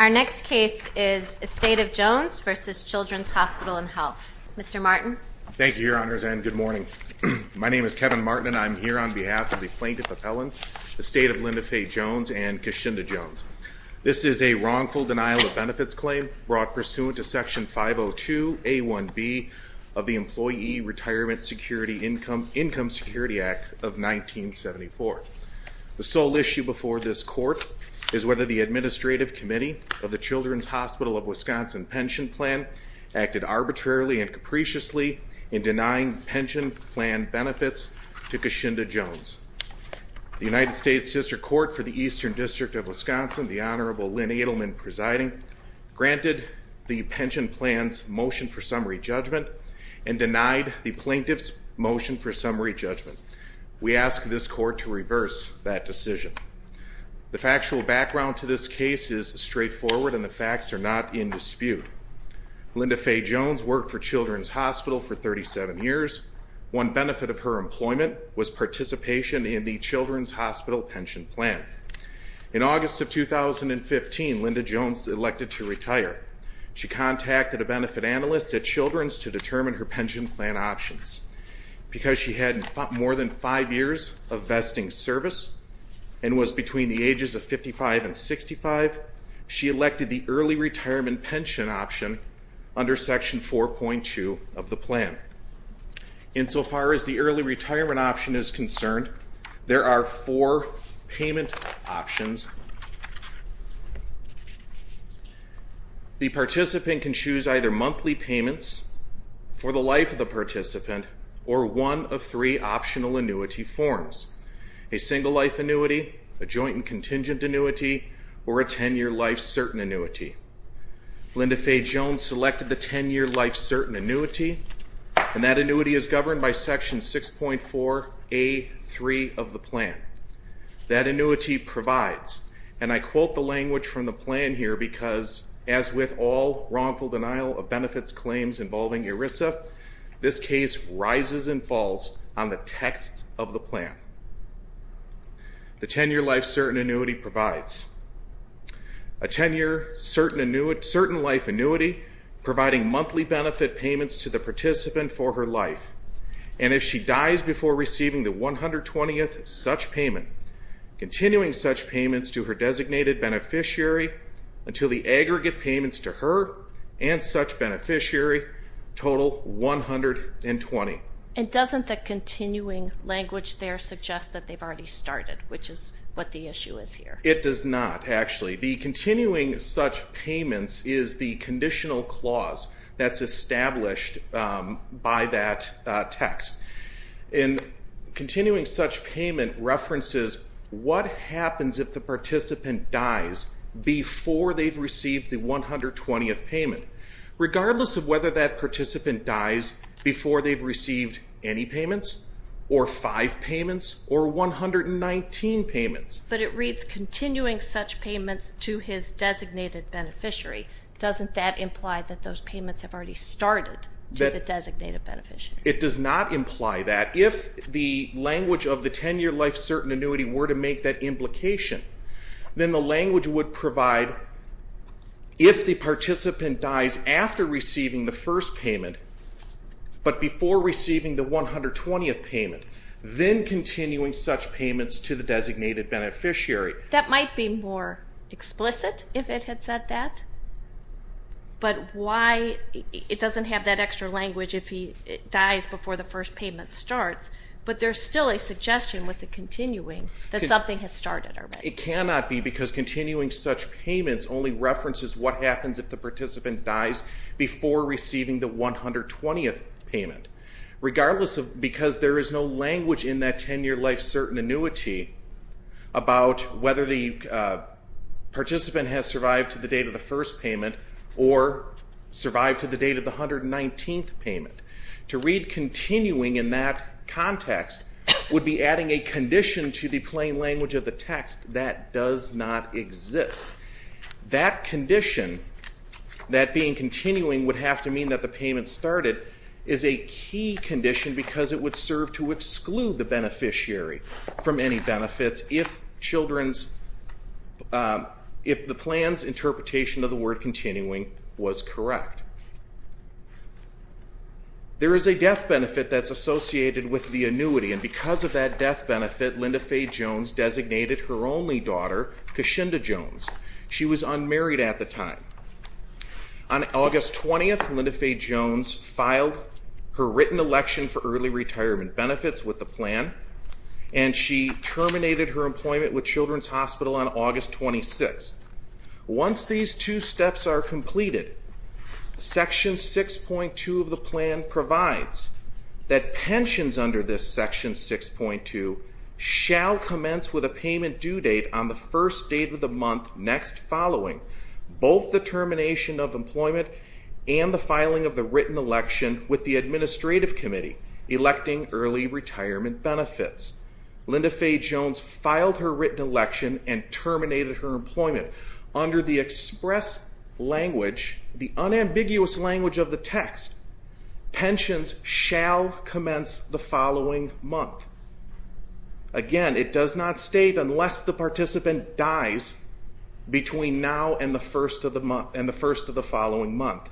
Our next case is Estate of Jones v. Children's Hospital and Health. Mr. Martin. Thank you, Your Honors, and good morning. My name is Kevin Martin, and I'm here on behalf of the Plaintiff of Ellens, Estate of Linda Faye Jones, and Keshinda Jones. This is a wrongful denial of benefits claim brought pursuant to Section 502A1B of the Employee Retirement Security Income Security Act of 1974. The sole issue before this Court is whether the Administrative Committee of the Children's Hospital of Wisconsin Pension Plan acted arbitrarily and capriciously in denying pension plan benefits to Keshinda Jones. The United States District Court for the Eastern District of Wisconsin, the Honorable Lynn Edelman presiding, granted the pension plan's motion for summary judgment and denied the plaintiff's motion for summary judgment. We ask this Court to reverse that decision. The factual background to this case is straightforward, and the facts are not in dispute. Linda Faye Jones worked for Children's Hospital for 37 years. One benefit of her employment was participation in the Children's Hospital Pension Plan. In August of 2015, Linda Jones elected to retire. She contacted a benefit analyst at Children's to determine her pension plan options. Because she had more than five years of vesting service and was between the ages of 55 and 65, she elected the early retirement pension option under Section 4.2 of the plan. Insofar as the early retirement option is concerned, there are four payment options. The participant can choose either monthly payments for the life of the participant or one of three optional annuity forms. A single life annuity, a joint and contingent annuity, or a 10-year life certain annuity. Linda Faye Jones selected the 10-year life certain annuity, and that annuity is governed by Section 6.4A.3 of the plan. That annuity provides, and I quote the language from the plan here because, as with all wrongful denial of benefits claims involving ERISA, this case rises and falls on the text of the plan. The 10-year life certain annuity provides a 10-year certain life annuity providing monthly benefit payments to the participant for her life. And if she dies before receiving the 120th such payment, continuing such payments to her designated beneficiary until the aggregate payments to her and such beneficiary total 120. And doesn't the continuing language there suggest that they've already started, which is what the issue is here? It does not, actually. The continuing such payments is the conditional clause that's established by that text. And continuing such payment references what happens if the participant dies before they've received the 120th payment, regardless of whether that participant dies before they've received any payments or five payments or 119 payments. But it reads continuing such payments to his designated beneficiary. Doesn't that imply that those payments have already started to the designated beneficiary? It does not imply that. If the language of the 10-year life certain annuity were to make that implication, then the language would provide if the participant dies after receiving the first payment, but before receiving the 120th payment, then continuing such payments to the designated beneficiary. That might be more explicit if it had said that, but why? It doesn't have that extra language if he dies before the first payment starts, but there's still a suggestion with the continuing that something has started already. It cannot be because continuing such payments only references what happens if the participant dies before receiving the 120th payment, regardless of because there is no language in that 10-year life certain annuity about whether the participant has survived to the date of the first payment or survived to the date of the 119th payment. To read continuing in that context would be adding a condition to the plain language of the text that does not exist. That condition, that being continuing, would have to mean that the payment started is a key condition because it would serve to exclude the beneficiary from any benefits if the plan's interpretation of the word continuing was correct. There is a death benefit that's associated with the annuity, and because of that death benefit, Linda Faye Jones designated her only daughter, Keshinda Jones. She was unmarried at the time. On August 20th, Linda Faye Jones filed her written election for early retirement benefits with the plan, and she terminated her employment with Children's Hospital on August 26th. Once these two steps are completed, Section 6.2 of the plan provides that pensions under this Section 6.2 shall commence with a payment due date on the first date of the month next following both the termination of employment and the filing of the written election with the administrative committee electing early retirement benefits. Linda Faye Jones filed her written election and terminated her employment under the express language, the unambiguous language of the text. Pensions shall commence the following month. Again, it does not state unless the participant dies between now and the first of the month, and the first of the following month.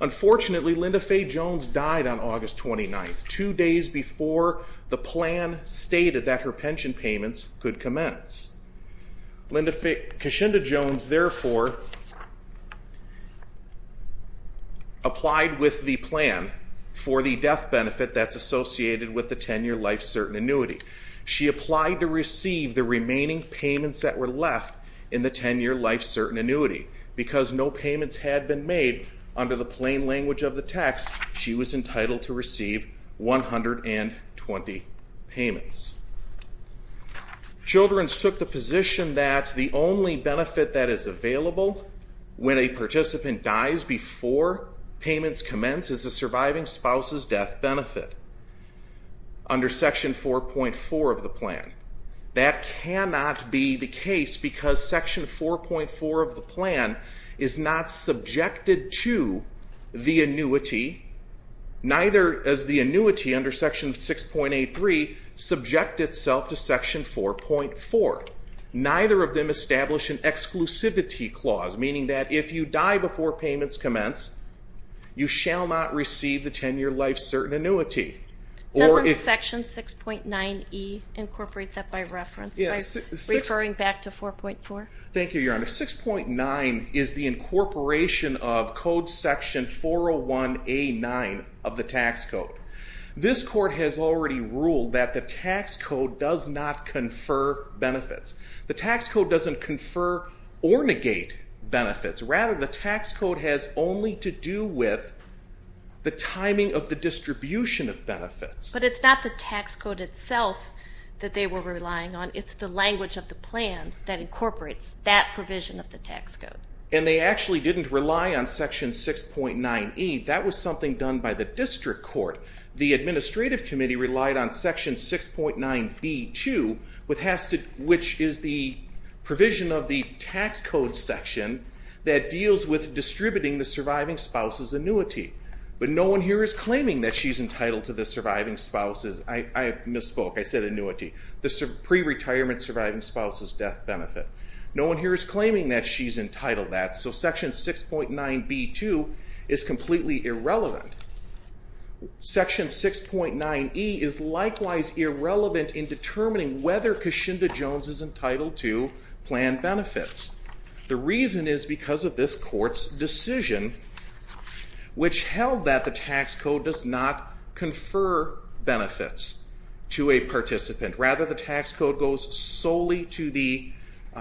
Unfortunately, Linda Faye Jones died on August 29th, two days before the plan stated that her pension payments could commence. Keshinda Jones, therefore, applied with the plan for the death benefit that's associated with the 10-year life-certain annuity. She applied to receive the remaining payments that were left in the 10-year life-certain annuity. Because no payments had been made under the plain language of the text, she was entitled to receive 120 payments. Children's took the position that the only benefit that is available when a participant dies before payments commence is a surviving spouse's death benefit under section 4.4 of the plan. That cannot be the case because section 4.4 of the plan is not subjected to the annuity, neither is the annuity under section 6.83 subject itself to section 4.4. Neither of them establish an exclusivity clause, meaning that if you die before payments commence, you shall not receive the 10-year life-certain annuity. Doesn't section 6.9e incorporate that by reference, by referring back to 4.4? Thank you, Your Honor. 6.9 is the incorporation of code section 401A9 of the tax code. This court has already ruled that the tax code does not confer benefits. The tax code doesn't confer or negate benefits. Rather, the tax code has only to do with the timing of the distribution of benefits. But it's not the tax code itself that they were relying on. It's the language of the plan that incorporates that provision of the tax code. And they actually didn't rely on section 6.9e. That was something done by the district court. The administrative committee relied on section 6.9b, too, which is the provision of the tax code section that deals with distributing the surviving spouse's annuity. But no one here is claiming that she's entitled to the surviving spouse's. I misspoke. I said annuity. The pre-retirement surviving spouse's death benefit. No one here is claiming that she's entitled to that. So section 6.9b, too, is completely irrelevant. Section 6.9e is likewise irrelevant in determining whether Kashinda Jones is entitled to planned benefits. The reason is because of this court's decision which held that the tax code does not confer benefits to a participant. Rather, the tax code goes solely to the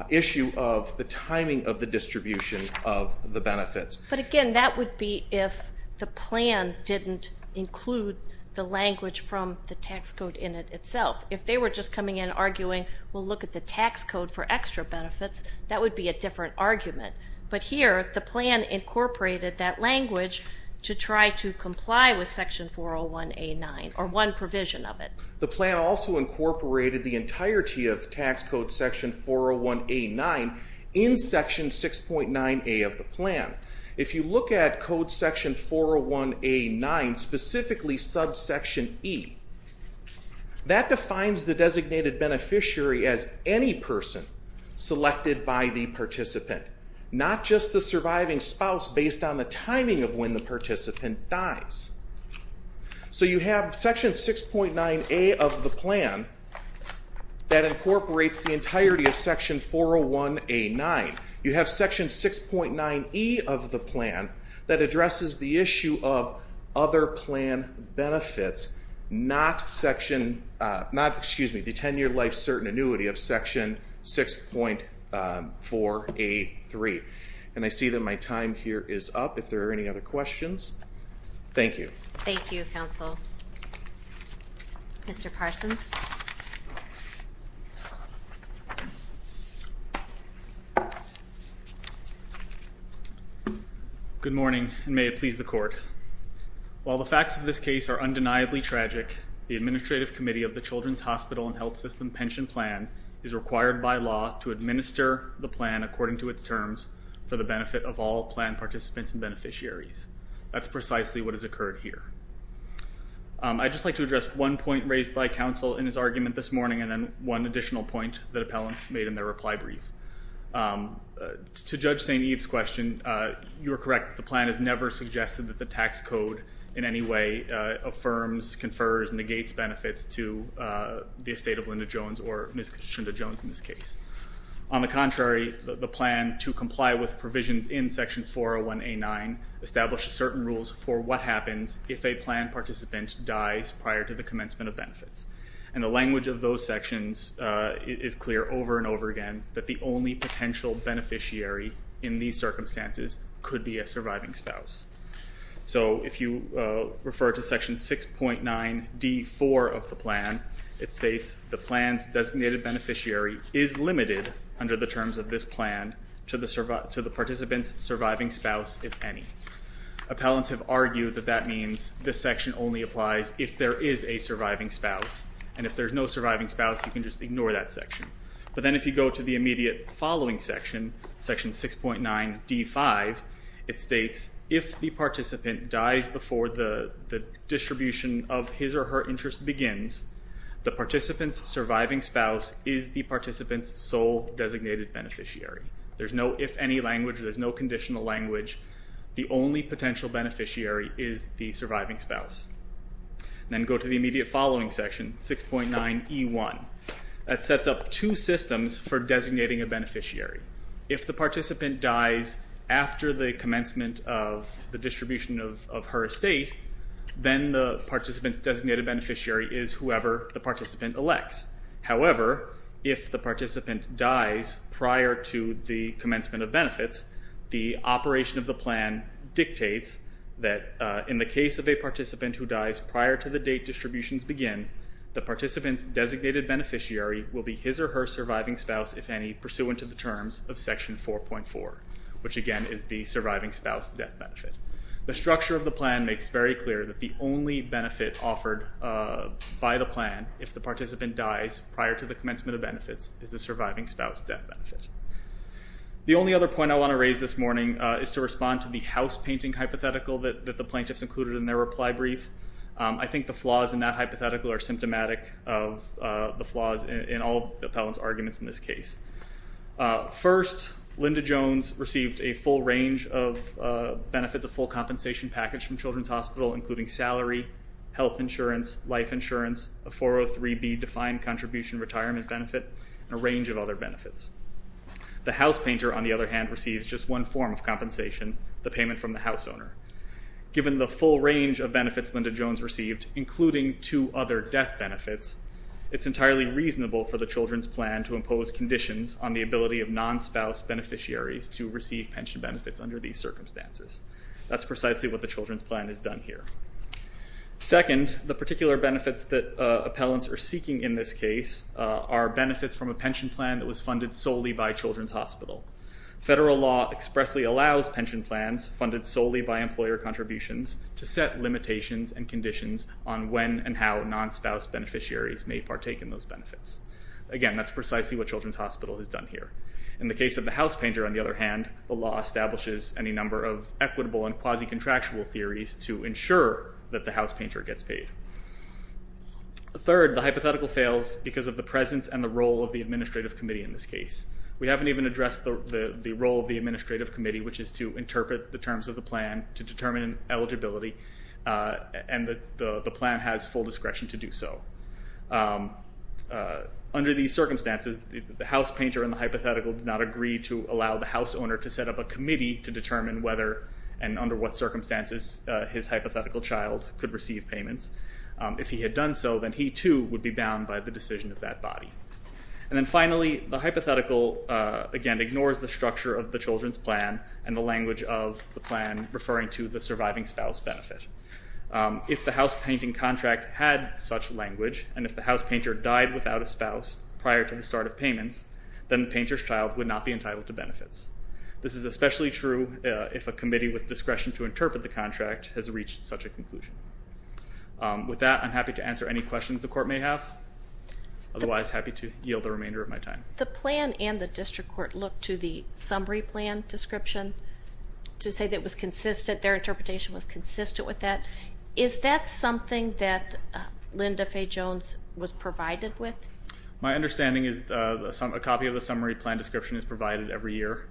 issue of the timing of the distribution of the benefits. But, again, that would be if the plan didn't include the language from the tax code in it itself. If they were just coming in arguing, well, look at the tax code for extra benefits, that would be a different argument. But here, the plan incorporated that language to try to comply with section 401A9 or one provision of it. The plan also incorporated the entirety of tax code section 401A9 in section 6.9a of the plan. If you look at code section 401A9, specifically subsection E, that defines the designated beneficiary as any person selected by the participant, not just the surviving spouse based on the timing of when the participant dies. So you have section 6.9a of the plan that incorporates the entirety of section 401A9. You have section 6.9e of the plan that addresses the issue of other plan benefits, not the 10-year life certain annuity of section 6.483. And I see that my time here is up. If there are any other questions, thank you. Thank you, counsel. Mr. Parsons? Good morning, and may it please the court. While the facts of this case are undeniably tragic, the Administrative Committee of the Children's Hospital and Health System Pension Plan is required by law to administer the plan according to its terms for the benefit of all plan participants and beneficiaries. That's precisely what has occurred here. I'd just like to address one point raised by counsel in his argument this morning and then one additional point that appellants made in their reply brief. To Judge St. Eve's question, you are correct. The plan has never suggested that the tax code in any way affirms, confers, negates benefits to the estate of Linda Jones or Ms. Shinda Jones in this case. On the contrary, the plan to comply with provisions in section 401A9 establishes certain rules for what happens if a plan participant dies prior to the commencement of benefits. And the language of those sections is clear over and over again that the only potential beneficiary in these circumstances could be a surviving spouse. So if you refer to section 6.9D4 of the plan, it states the plan's designated beneficiary is limited under the terms of this plan to the participant's surviving spouse, if any. Appellants have argued that that means this section only applies if there is a surviving spouse. And if there's no surviving spouse, you can just ignore that section. But then if you go to the immediate following section, section 6.9D5, it states if the participant dies before the distribution of his or her interest begins, the participant's surviving spouse is the participant's sole designated beneficiary. There's no if any language. There's no conditional language. The only potential beneficiary is the surviving spouse. Then go to the immediate following section, 6.9E1. That sets up two systems for designating a beneficiary. If the participant dies after the commencement of the distribution of her estate, then the participant's designated beneficiary is whoever the participant elects. However, if the participant dies prior to the commencement of benefits, the operation of the plan dictates that in the case of a participant who dies prior to the date distributions begin, the participant's designated beneficiary will be his or her surviving spouse, if any, pursuant to the terms of section 4.4, which again is the surviving spouse death benefit. The structure of the plan makes very clear that the only benefit offered by the plan if the participant dies prior to the commencement of benefits is the surviving spouse death benefit. The only other point I want to raise this morning is to respond to the house painting hypothetical that the plaintiffs included in their reply brief. I think the flaws in that hypothetical are symptomatic of the flaws in all the appellant's arguments in this case. First, Linda Jones received a full range of benefits, a full compensation package from Children's Hospital, including salary, health insurance, life insurance, a 403B defined contribution retirement benefit, and a range of other benefits. The house painter, on the other hand, receives just one form of compensation, the payment from the house owner. Given the full range of benefits Linda Jones received, including two other death benefits, it's entirely reasonable for the children's plan to impose conditions on the ability of non-spouse beneficiaries to receive pension benefits under these circumstances. That's precisely what the children's plan has done here. Second, the particular benefits that appellants are seeking in this case are benefits from a pension plan that was funded solely by Children's Hospital. Federal law expressly allows pension plans funded solely by employer contributions to set limitations and conditions on when and how non-spouse beneficiaries may partake in those benefits. Again, that's precisely what Children's Hospital has done here. In the case of the house painter, on the other hand, the law establishes any number of equitable and quasi-contractual theories to ensure that the house painter gets paid. Third, the hypothetical fails because of the presence and the role of the administrative committee in this case. We haven't even addressed the role of the administrative committee, which is to interpret the terms of the plan to determine eligibility, and the plan has full discretion to do so. Under these circumstances, the house painter in the hypothetical did not agree to allow the house owner to set up a committee to determine whether and under what circumstances his hypothetical child could receive payments. If he had done so, then he too would be bound by the decision of that body. And then finally, the hypothetical, again, ignores the structure of the children's plan and the language of the plan referring to the surviving spouse benefit. If the house painting contract had such language, and if the house painter died without a spouse prior to the start of payments, then the painter's child would not be entitled to benefits. This is especially true if a committee with discretion to interpret the contract has reached such a conclusion. With that, I'm happy to answer any questions the Court may have. Otherwise, happy to yield the remainder of my time. The plan and the district court looked to the summary plan description to say that it was consistent, their interpretation was consistent with that. Is that something that Linda Fay Jones was provided with? My understanding is a copy of the summary plan description is provided every year.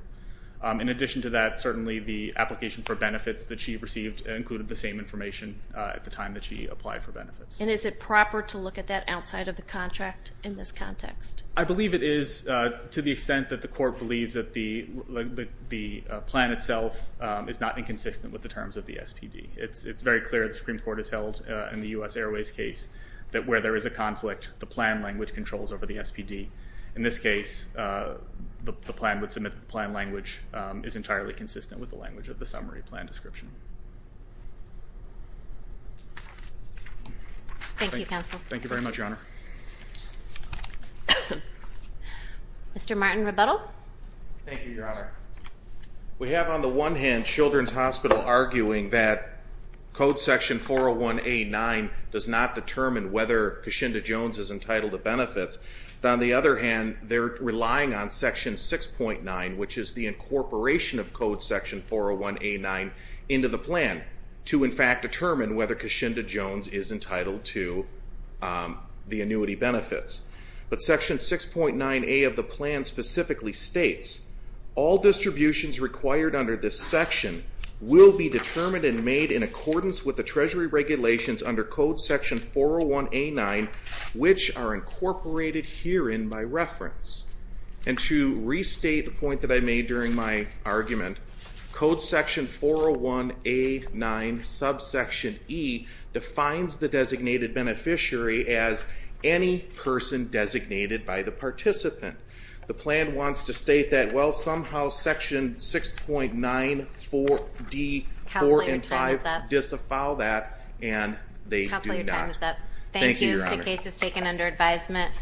In addition to that, certainly the application for benefits that she received included the same information at the time that she applied for benefits. And is it proper to look at that outside of the contract in this context? I believe it is to the extent that the Court believes that the plan itself is not inconsistent with the terms of the SPD. It's very clear that the Supreme Court has held in the U.S. Airways case that where there is a conflict, the plan language controls over the SPD. In this case, the plan would submit that the plan language is entirely consistent with the language of the summary plan description. Thank you, Counsel. Thank you very much, Your Honor. Mr. Martin Rebuttal. Thank you, Your Honor. We have on the one hand Children's Hospital arguing that Code Section 401A9 does not determine whether Keshinda Jones is entitled to benefits. On the other hand, they're relying on Section 6.9, which is the incorporation of Code Section 401A9 into the plan to, in fact, determine whether Keshinda Jones is entitled to the annuity benefits. But Section 6.9A of the plan specifically states, all distributions required under this section will be determined and made in accordance with the Treasury regulations under Code Section 401A9, which are incorporated herein by reference. And to restate the point that I made during my argument, Code Section 401A9 subsection E defines the designated beneficiary as any person designated by the participant. The plan wants to state that, well, somehow Section 6.9D4 and 5 disavow that, and they do not. Counsel, your time is up. Thank you, Your Honor. Thank you. The case is taken under advisement.